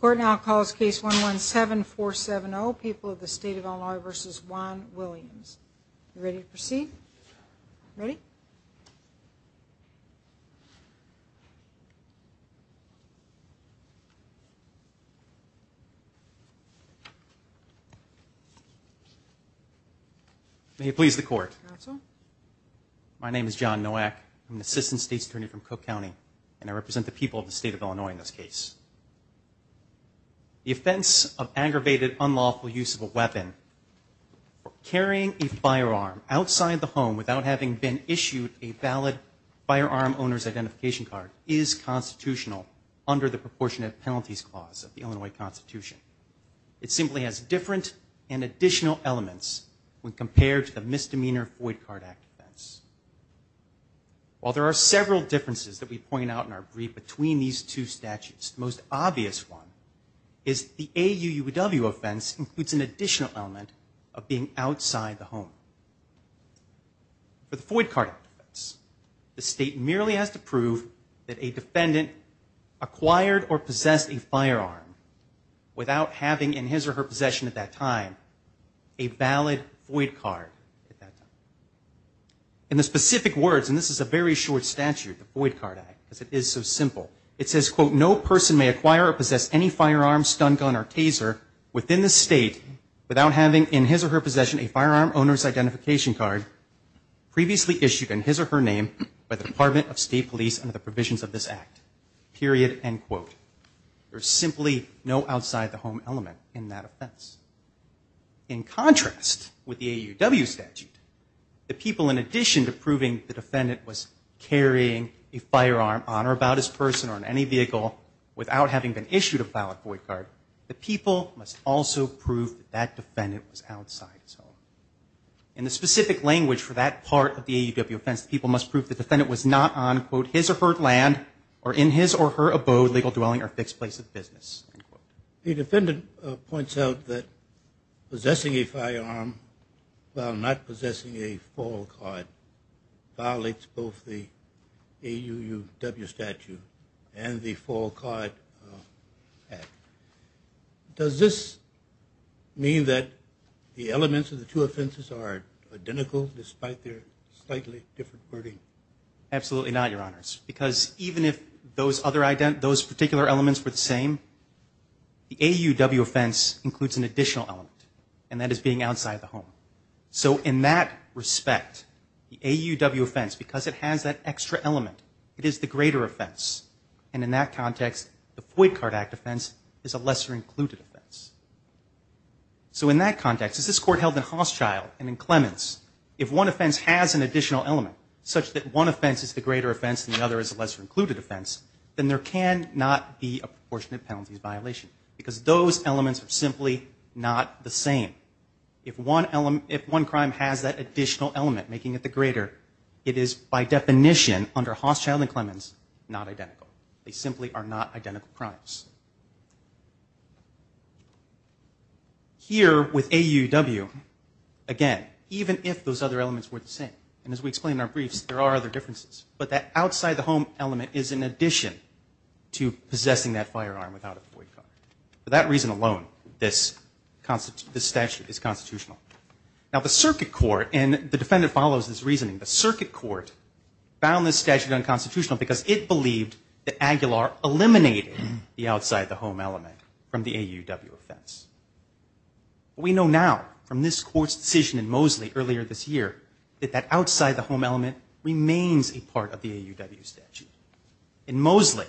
Court now calls case 117-470 people of the state of Illinois v. Juan Williams. You ready to proceed? Ready? May it please the court. My name is John Nowak. I'm an assistant state attorney in Illinois in this case. The offense of aggravated unlawful use of a weapon for carrying a firearm outside the home without having been issued a valid firearm owner's identification card is constitutional under the proportionate penalties clause of the Illinois Constitution. It simply has different and additional elements when compared to the Misdemeanor Void Card Act offense. While there are several differences that we point out in our statutes, the most obvious one is the AUUW offense includes an additional element of being outside the home. For the Void Card Act offense, the state merely has to prove that a defendant acquired or possessed a firearm without having in his or her possession at that time a valid void card. In the specific words, and this is a very short statute, the Void Card Act, because it is so simple, it says, quote, no person may acquire or possess any firearm, stun gun, or taser within the state without having in his or her possession a firearm owner's identification card previously issued in his or her name by the Department of State Police under the provisions of this act, period, end quote. There's simply no outside the home element in that offense. In contrast with the AUW statute, the people in addition to proving the defendant was carrying a firearm on or about his person or in any vehicle without having been issued a valid void card, the people must also prove that that defendant was outside his home. In the specific language for that part of the AUW offense, the people must prove the defendant was not on, quote, his or her land or in his or her abode, legal dwelling, or fixed place of business, end quote. The defendant points out that possessing a firearm while not in the state statute and the Fall Card Act. Does this mean that the elements of the two offenses are identical despite their slightly different wording? Absolutely not, Your Honors, because even if those other, those particular elements were the same, the AUW offense includes an additional element, and that is being outside the home. So in that respect, the AUW offense, because it has that extra element, it is the greater offense. And in that context, the Void Card Act offense is a lesser-included offense. So in that context, as this Court held in Hauschild and in Clements, if one offense has an additional element such that one offense is the greater offense and the other is a lesser-included offense, then there cannot be a proportionate penalties violation because those elements are simply not the same. If one crime has that additional element, making it the Hauschild and Clements, not identical. They simply are not identical crimes. Here with AUW, again, even if those other elements were the same, and as we explained in our briefs, there are other differences, but that outside the home element is in addition to possessing that firearm without a void card. For that reason alone, this statute is constitutional. Now the Circuit Court, and the defendant follows this reasoning, the Circuit Court found this statute unconstitutional because it believed that Aguilar eliminated the outside the home element from the AUW offense. We know now, from this Court's decision in Mosley earlier this year, that that outside the home element remains a part of the AUW statute. In Mosley,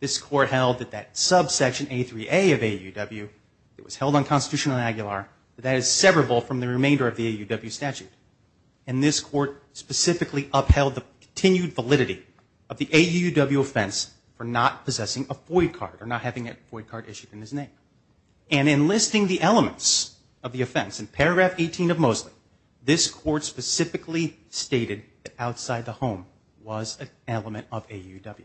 this Court held that that subsection A3A of AUW, it was held unconstitutional in Aguilar, but that is severable from the remainder of the AUW statute. And this Court specifically upheld the continued validity of the AUW offense for not possessing a void card, or not having a void card issued in his name. And in listing the elements of the offense, in paragraph 18 of Mosley, this Court specifically stated that outside the home was an element of AUW.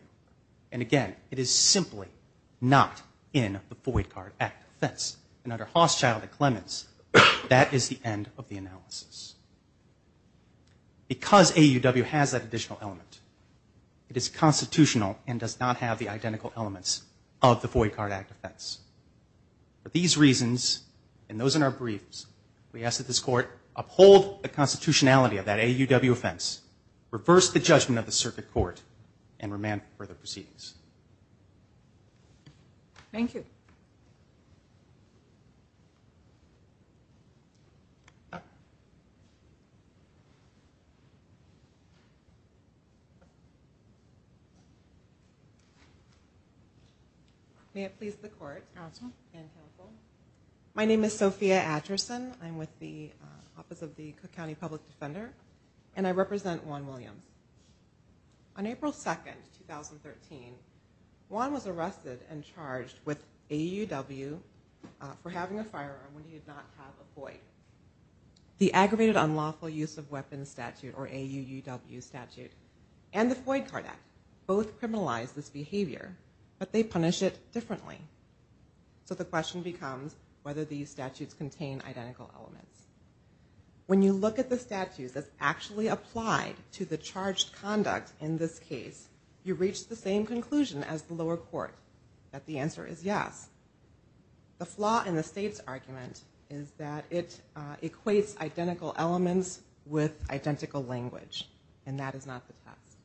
And again, it is simply not in the Void Card Act offense. And under Hauschild and Clements, that is the end of the analysis. Because AUW has that additional element, it is constitutional and does not have the identical elements of the Void Card Act offense. For these reasons, and those in our briefs, we ask that this Court uphold the constitutionality of that AUW offense, reverse the judgment of the Circuit Court, and remand further proceedings. Thank you. May it please the Court and Council. My name is Sophia Atchison. I'm with the Office of the Cook County Public Defender, and I represent Juan Williams. On April 2, 2013, Juan was arrested and charged with AUW for having a firearm when he did not have a void. The Aggravated Unlawful Use of Weapons Statute, or AUUW Statute, and the Void Card Act, both criminalize this behavior, but they punish it differently. So the question becomes whether these statutes contain identical elements. When you look at the statutes as actually applied to the charged conduct in this case, you reach the same conclusion as the lower court, that the answer is yes. The flaw in the state's argument is that it equates identical elements with identical language, and that is not the test.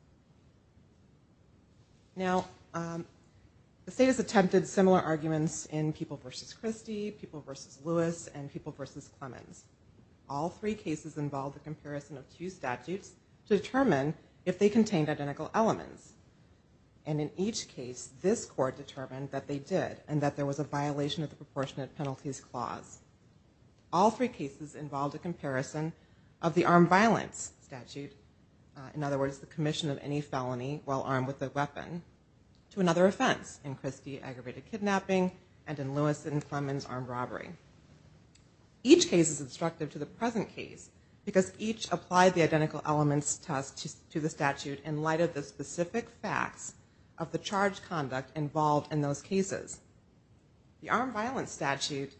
Now, the state has attempted similar arguments in People v. Christie, People v. Lewis, and People v. Clemens. All three cases involved a comparison of two statutes to determine if they contained identical elements. And in each case, this court determined that they did, and that there was a violation of the Proportionate Penalties Clause. All three cases involved a comparison of the Armed Violence Statute, in other words, the commission of any felony while armed with a weapon, to another offense in Christie, Aggravated Kidnapping, and in Lewis and Clemens, Armed Robbery. Each case is instructive to the present case, because each applied the identical elements test to the statute in light of the specific facts of the charged conduct involved in those cases. The Armed Violence Statute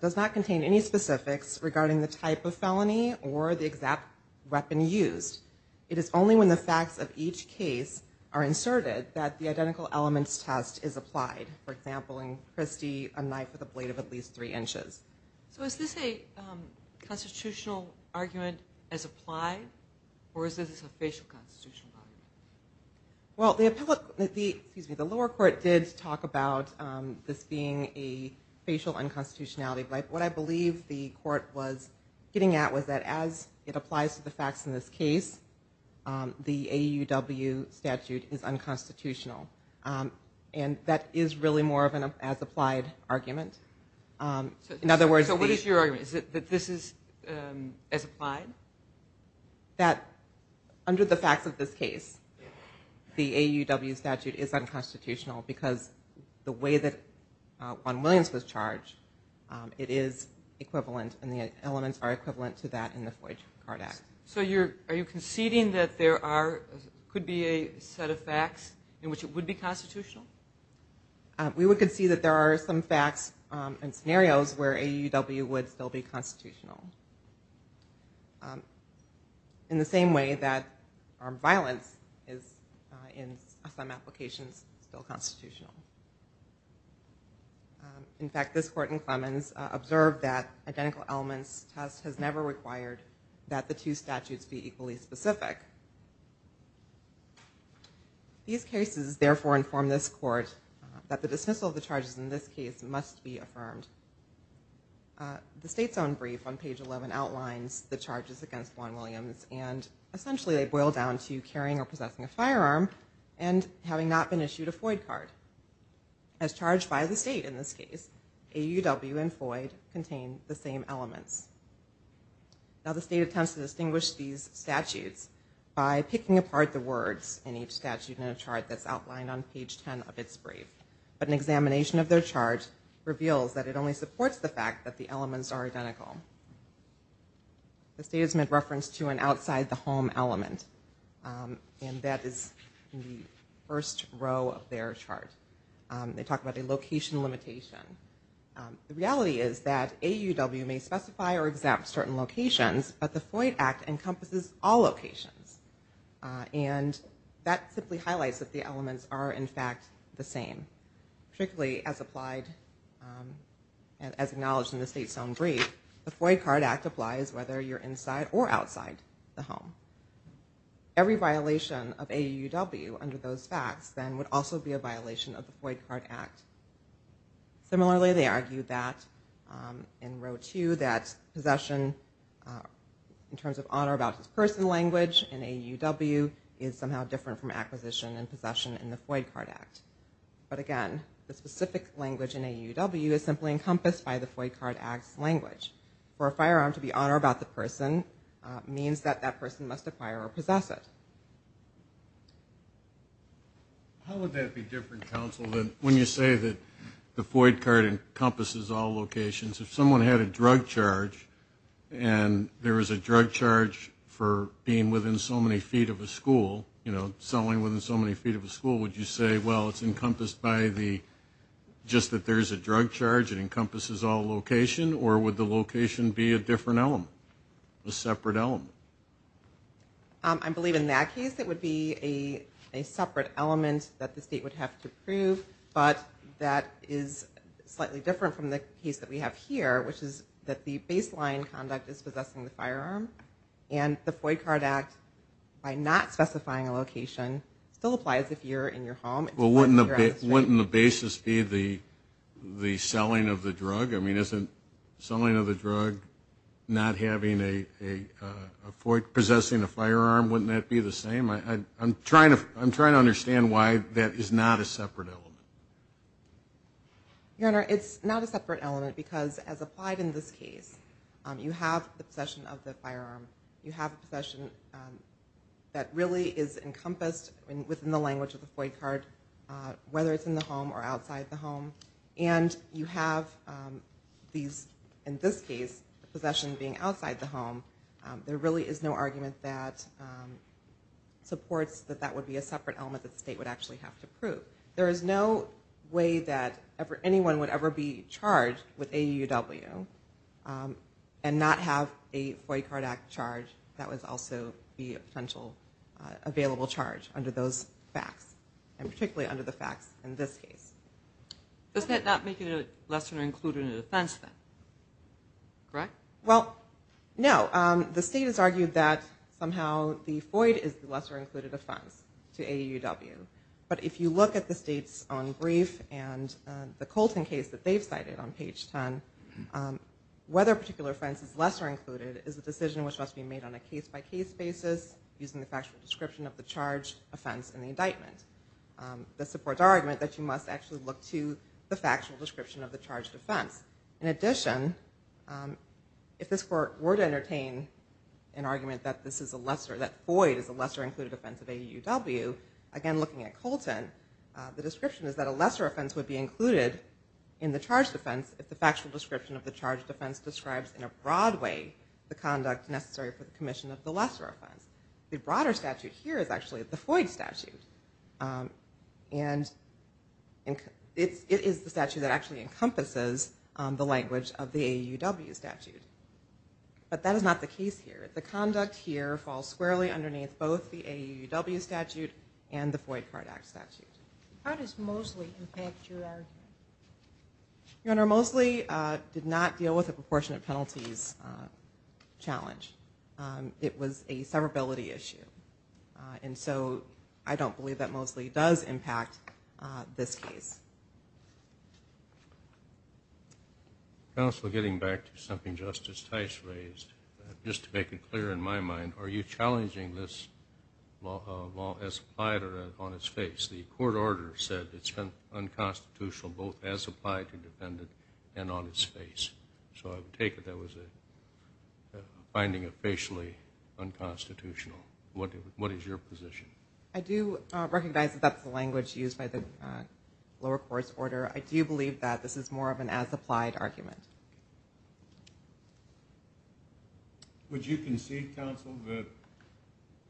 does not contain any specifics regarding the type of felony or the exact weapon used. It is only when the facts of each case are inserted that the identical elements test is applied. For example, in Christie, a knife with a blade of at least three inches. So is this a constitutional argument as applied, or is this a facial constitutional argument? Well, the lower court did talk about this being a facial unconstitutionality, but what I believe the court was getting at was that as it applies to the facts in this case, the AUW statute is unconstitutional. And that is really more of an as applied argument. So what is your argument? Is it that this is as applied? That under the facts of this case, the AUW statute is unconstitutional, because the way that Juan Williams was charged, it is equivalent, and the elements are equivalent to that in the Floyd-Kardak. So you're, are you conceding that there are, could be a set of facts in which it would be constitutional? We would concede that there are some facts and scenarios where AUW would still be constitutional. In the same way that armed violence is, in some applications, still constitutional. In fact, this court in Clemens observed that identical elements test has never required that the two statutes be equally specific. These cases, therefore, inform this court that the dismissal of this case must be affirmed. The state's own brief on page 11 outlines the charges against Juan Williams, and essentially they boil down to carrying or possessing a firearm and having not been issued a Floyd card. As charged by the state in this case, AUW and Floyd contain the same elements. Now the state attempts to distinguish these statutes by picking apart the words in each statute in a chart that's outlined on page 10 of its brief. But an examination of their chart reveals that it only supports the fact that the elements are identical. The state has made reference to an outside the home element, and that is the first row of their chart. They talk about a location limitation. The reality is that AUW may specify or exempt certain locations, but the Floyd Act encompasses all locations. And that simply highlights that the elements are, in fact, the same. Particularly, as applied, as acknowledged in the state's own brief, the Floyd Card Act applies whether you're inside or outside the home. Every violation of AUW under those facts, then, would also be a violation of the Floyd Card Act. Similarly, they argue that, in row two, that possession, in terms of honor about his personal language, in AUW is somehow different from acquisition and possession in the state. Again, the specific language in AUW is simply encompassed by the Floyd Card Act's language. For a firearm to be honor about the person means that that person must acquire or possess it. How would that be different, counsel, than when you say that the Floyd Card encompasses all locations? If someone had a drug charge and there was a drug charge for being within so many feet of a school, you know, selling within so many feet of a school, would you say, well, it's encompassed by the, just that there's a drug charge, it encompasses all location, or would the location be a different element, a separate element? I believe in that case, it would be a separate element that the state would have to prove, but that is slightly different from the case that we have here, which is that the baseline conduct is possessing the firearm, and the Floyd location still applies if you're in your home. Well, wouldn't the basis be the selling of the drug? I mean, isn't selling of the drug not having a, possessing a firearm, wouldn't that be the same? I'm trying to understand why that is not a separate element. Your Honor, it's not a separate element, because as applied in this case, you have the possession of the firearm, it really is encompassed within the language of the Floyd card, whether it's in the home or outside the home, and you have these, in this case, the possession being outside the home, there really is no argument that supports that that would be a separate element that the state would actually have to prove. There is no way that anyone would ever be charged with AUW and not have a Floyd Card Act charge that would also be a potential available charge under those facts, and particularly under the facts in this case. Does that not make it a lesser-included offense then? Correct? Well, no. The state has argued that somehow the Floyd is the lesser- included offense to AUW, but if you look at the state's own brief and the Colton case that they've cited on page 10, whether a particular offense is lesser- included, that argument must be made on a case-by-case basis using the factual description of the charged offense in the indictment. This supports our argument that you must actually look to the factual description of the charged offense. In addition, if this Court were to entertain an argument that this is a lesser, that Floyd is a lesser- included offense of AUW, again looking at Colton, the description is that a lesser offense would be included in the charged offense if the factual description of the charged offense describes in a broad way the conduct necessary for the commission of the lesser offense. The broader statute here is actually the Floyd statute, and it is the statute that actually encompasses the language of the AUW statute, but that is not the case here. The conduct here falls squarely underneath both the AUW statute and the Floyd-Cardack statute. How does Mosley impact your argument? Your Honor, Mosley did not deal with a charge. It was a severability issue, and so I don't believe that Mosley does impact this case. Counsel, getting back to something Justice Tice raised, just to make it clear in my mind, are you challenging this law as applied or on its face? The court order said it's been unconstitutional both as applied to and as applied to. What is your position? I do recognize that that's the language used by the lower court's order. I do believe that this is more of an as-applied argument. Would you concede, Counsel, that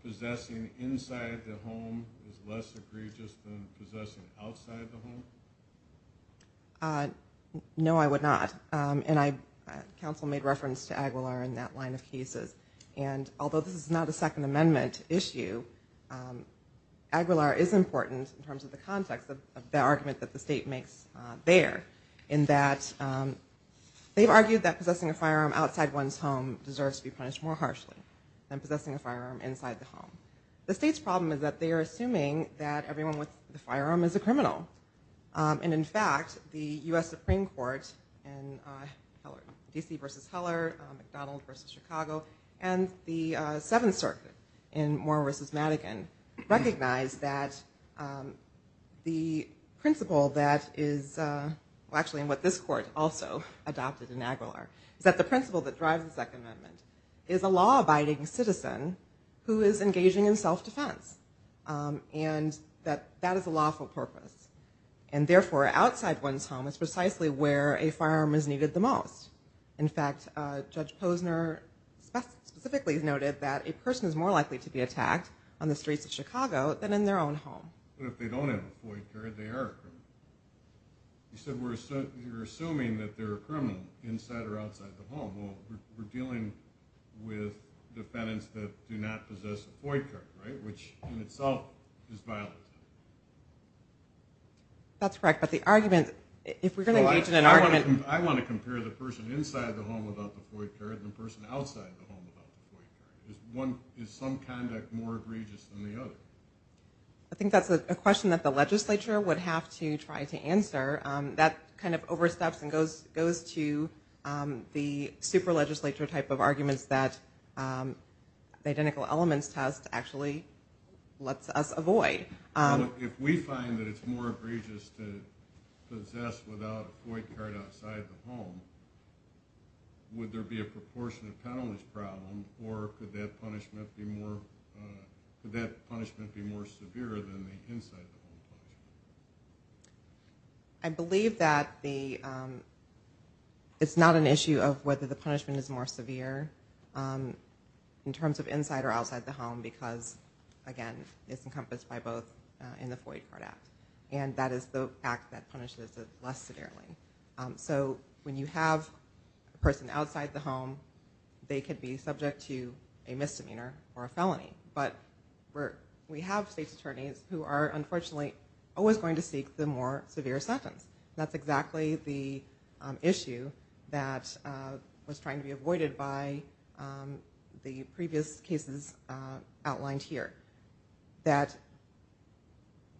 possessing inside the home is less egregious than possessing outside the home? No, I would not, and Counsel made reference to Aguilar in that line of cases, and although this is not a Second Amendment issue, Aguilar is important in terms of the context of the argument that the state makes there, in that they've argued that possessing a firearm outside one's home deserves to be punished more harshly than possessing a firearm inside the home. The state's problem is that they are assuming that everyone with the firearm is a criminal, and in fact, the US Supreme Court in DC v. Heller, McDonald v. Chicago, and the Seventh Circuit in Moore v. Madigan recognize that the principle that is, well actually in what this court also adopted in Aguilar, is that the principle that drives the Second Amendment is a law-abiding citizen who is engaging in self-defense, and that that is a lawful purpose, and therefore outside one's home is precisely where a firearm is needed the most. In fact, Judge Posner specifically noted that a person is more likely to be attacked on the streets of Chicago than in their own home. But if they don't have a FOIA card, they are a criminal. You said we're assuming that they're a criminal inside or outside the home, well we're dealing with defendants that do not possess a FOIA card, right, which in itself is violent. That's correct, but the question is how do you compare the person inside the home without the FOIA card and the person outside the home without the FOIA card? Is some conduct more egregious than the other? I think that's a question that the legislature would have to try to answer. That kind of oversteps and goes to the super-legislature type of arguments that the Identical Elements Test actually lets us avoid. Well, if we find that it's more egregious to possess without a FOIA card outside the home, then we have to have a FOIA card outside the home. Would there be a proportionate penalty problem, or could that punishment be more severe than the inside the home punishment? Well, if we have a person outside the home, they could be subject to a misdemeanor or a felony. But we have state attorneys who are unfortunately always going to seek the more severe sentence. That's exactly the issue that was trying to be avoided by the previous cases outlined here. That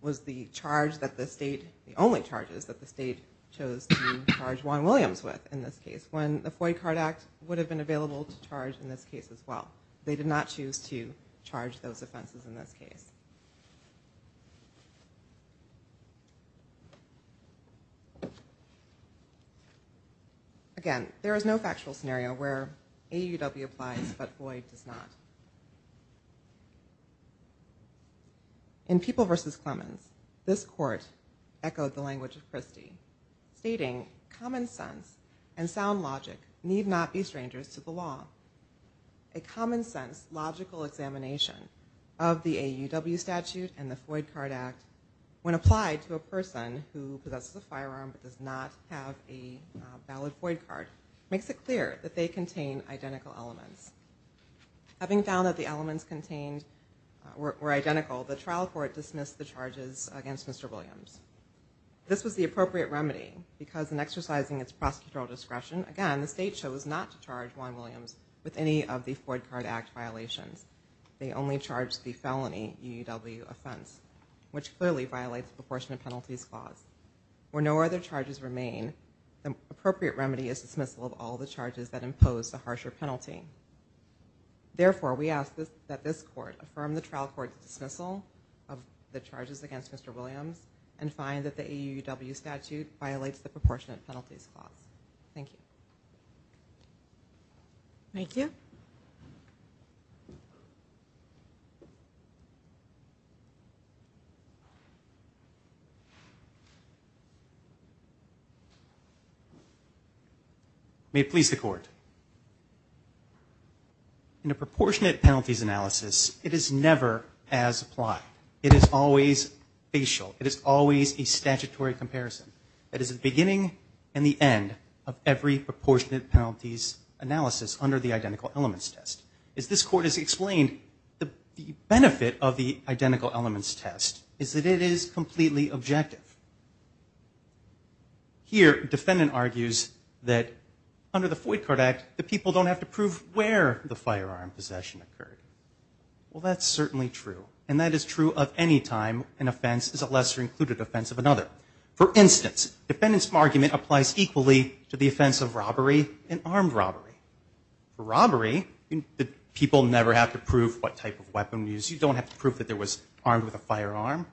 was the charge that the state, the only charges that the state chose to charge Juan Williams with in this case. When the FOIA card act would have been available to charge in this case as well. They did not choose to charge those offenses in this case. Again, there is no factual scenario where AUW applies but FOIA does not. In People v. Clemens, this court echoed the language of Christie, stating common sense and sound logic need not be strangers to the law. A common sense logical examination of the AUW statute and the FOIA card act when applied to a person who possesses a firearm but does not have a valid FOIA card makes it clear that they contain identical elements. Having found that the elements contained were identical, the trial court dismissed the charges against Mr. Williams. This was the appropriate remedy because in exercising its prosecutorial discretion, again, the state chose not to charge Juan Williams with any of the FOIA card act violations. They only charged the felony AUW offense, which clearly violates the proportionate penalties clause. Where no other charges remain, the appropriate remedy is dismissal of all the charges that impose a harsher penalty. Therefore, we ask that this court affirm the trial court's dismissal of the charges against Mr. Williams and find that the AUW statute violates the proportionate penalties clause. Thank you. Thank you. Thank you. May it please the court. In a proportionate penalties analysis, it is never as applied. It is always facial. It is always a statutory comparison. It is the beginning and the end of every proportionate penalties analysis under the identical elements test. As this court has explained, the benefit of the identical elements test is that it is completely objective. Here, defendant argues that under the FOIA card act, the people don't have to prove where the firearm possession occurred. Well, that's certainly true, and that is true of any time an offense is a lesser included offense of another. For instance, defendant's argument applies equally to the offense of robbery and armed robbery. For robbery, the people never have to prove what type of weapon was used. You don't have to prove that there was armed with a firearm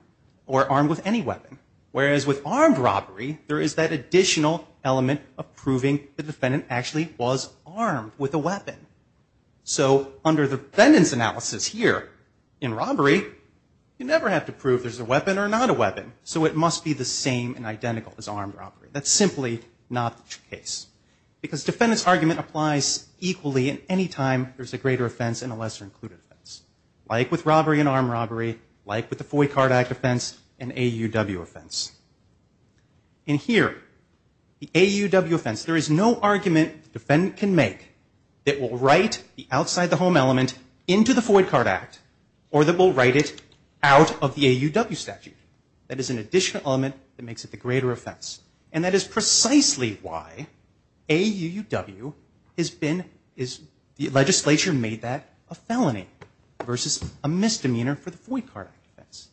or armed with any weapon. Whereas with armed robbery, there is that additional element of proving the defendant actually was armed with a weapon. So under the defendant's analysis here in robbery, you never have to prove there's a weapon or not a weapon. So it must be the same and identical as armed robbery. That's simply not the case. Because defendant's argument applies equally in any time there's a greater offense and a lesser included offense. Like with robbery and armed robbery, like with the FOIA card act offense and AUW offense. In here, the AUW offense, there is no argument the defendant can make that will write the outside the home element into the FOIA card act or that will write it out of the AUW statute. That is an additional element that makes it the greater offense. And that is precisely why AUW has been, the legislature made that a felony versus a misdemeanor for the FOIA card act offense.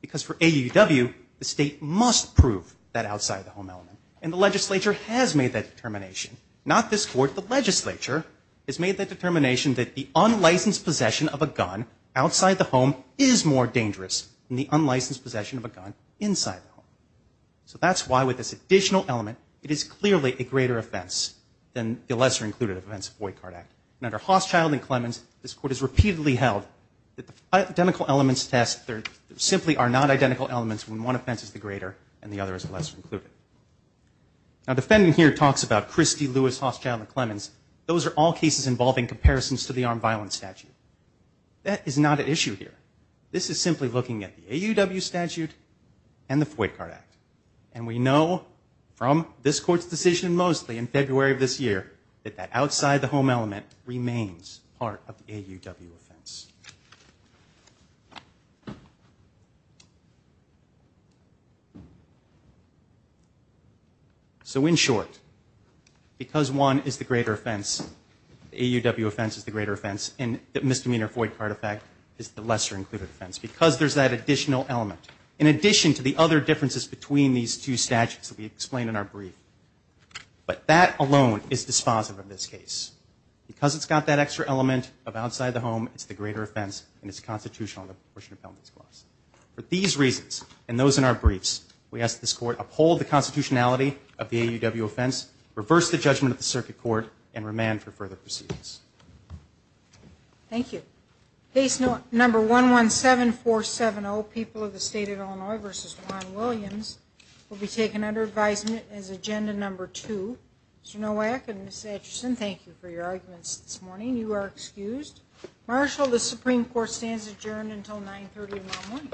Because for AUW, the state must prove that outside the home element. And the legislature has made that determination. Not this court. The legislature has made that determination that the unlicensed possession of a gun outside the home is more dangerous than the unlicensed possession of a gun inside the home. So that's why with this additional element, it is clearly a greater offense than the lesser included offense of FOIA card act. And under Hosschild and Clemens, this court has repeatedly held that the identical elements test, there simply are not identical elements when one offense is the greater and the other is the lesser included. Now defendant here talks about Christie, Lewis, Hosschild, and Clemens. Those are all cases involving comparisons to the armed violence statute. That is not an issue here. This is simply looking at the AUW statute and the FOIA card act. And we know from this court's decision mostly in February of this year, that the outside the home element remains part of the AUW offense. So in short, because one is the greater offense, the AUW offense is the greater offense, and the misdemeanor FOIA card effect is the lesser included offense. Because there's that additional element. In addition to the other differences between these two statutes that we explained in our brief. But that alone is dispositive of this case. Because it's got that extra element of outside the home, it's the greater offense, and it's constitutional in the portion of penalties clause. For these reasons, and those in our briefs, we ask this court uphold the constitutionality of the AUW offense, reverse the judgment of the circuit court, and remand for further proceedings. Thank you. Case number 117470, People of the State of Illinois v. Ron Williams, will be taken under advisement as agenda number two. Mr. Nowak and Ms. Atchison, thank you for your arguments this morning. You are excused. Marshal, the Supreme Court stands adjourned until 930.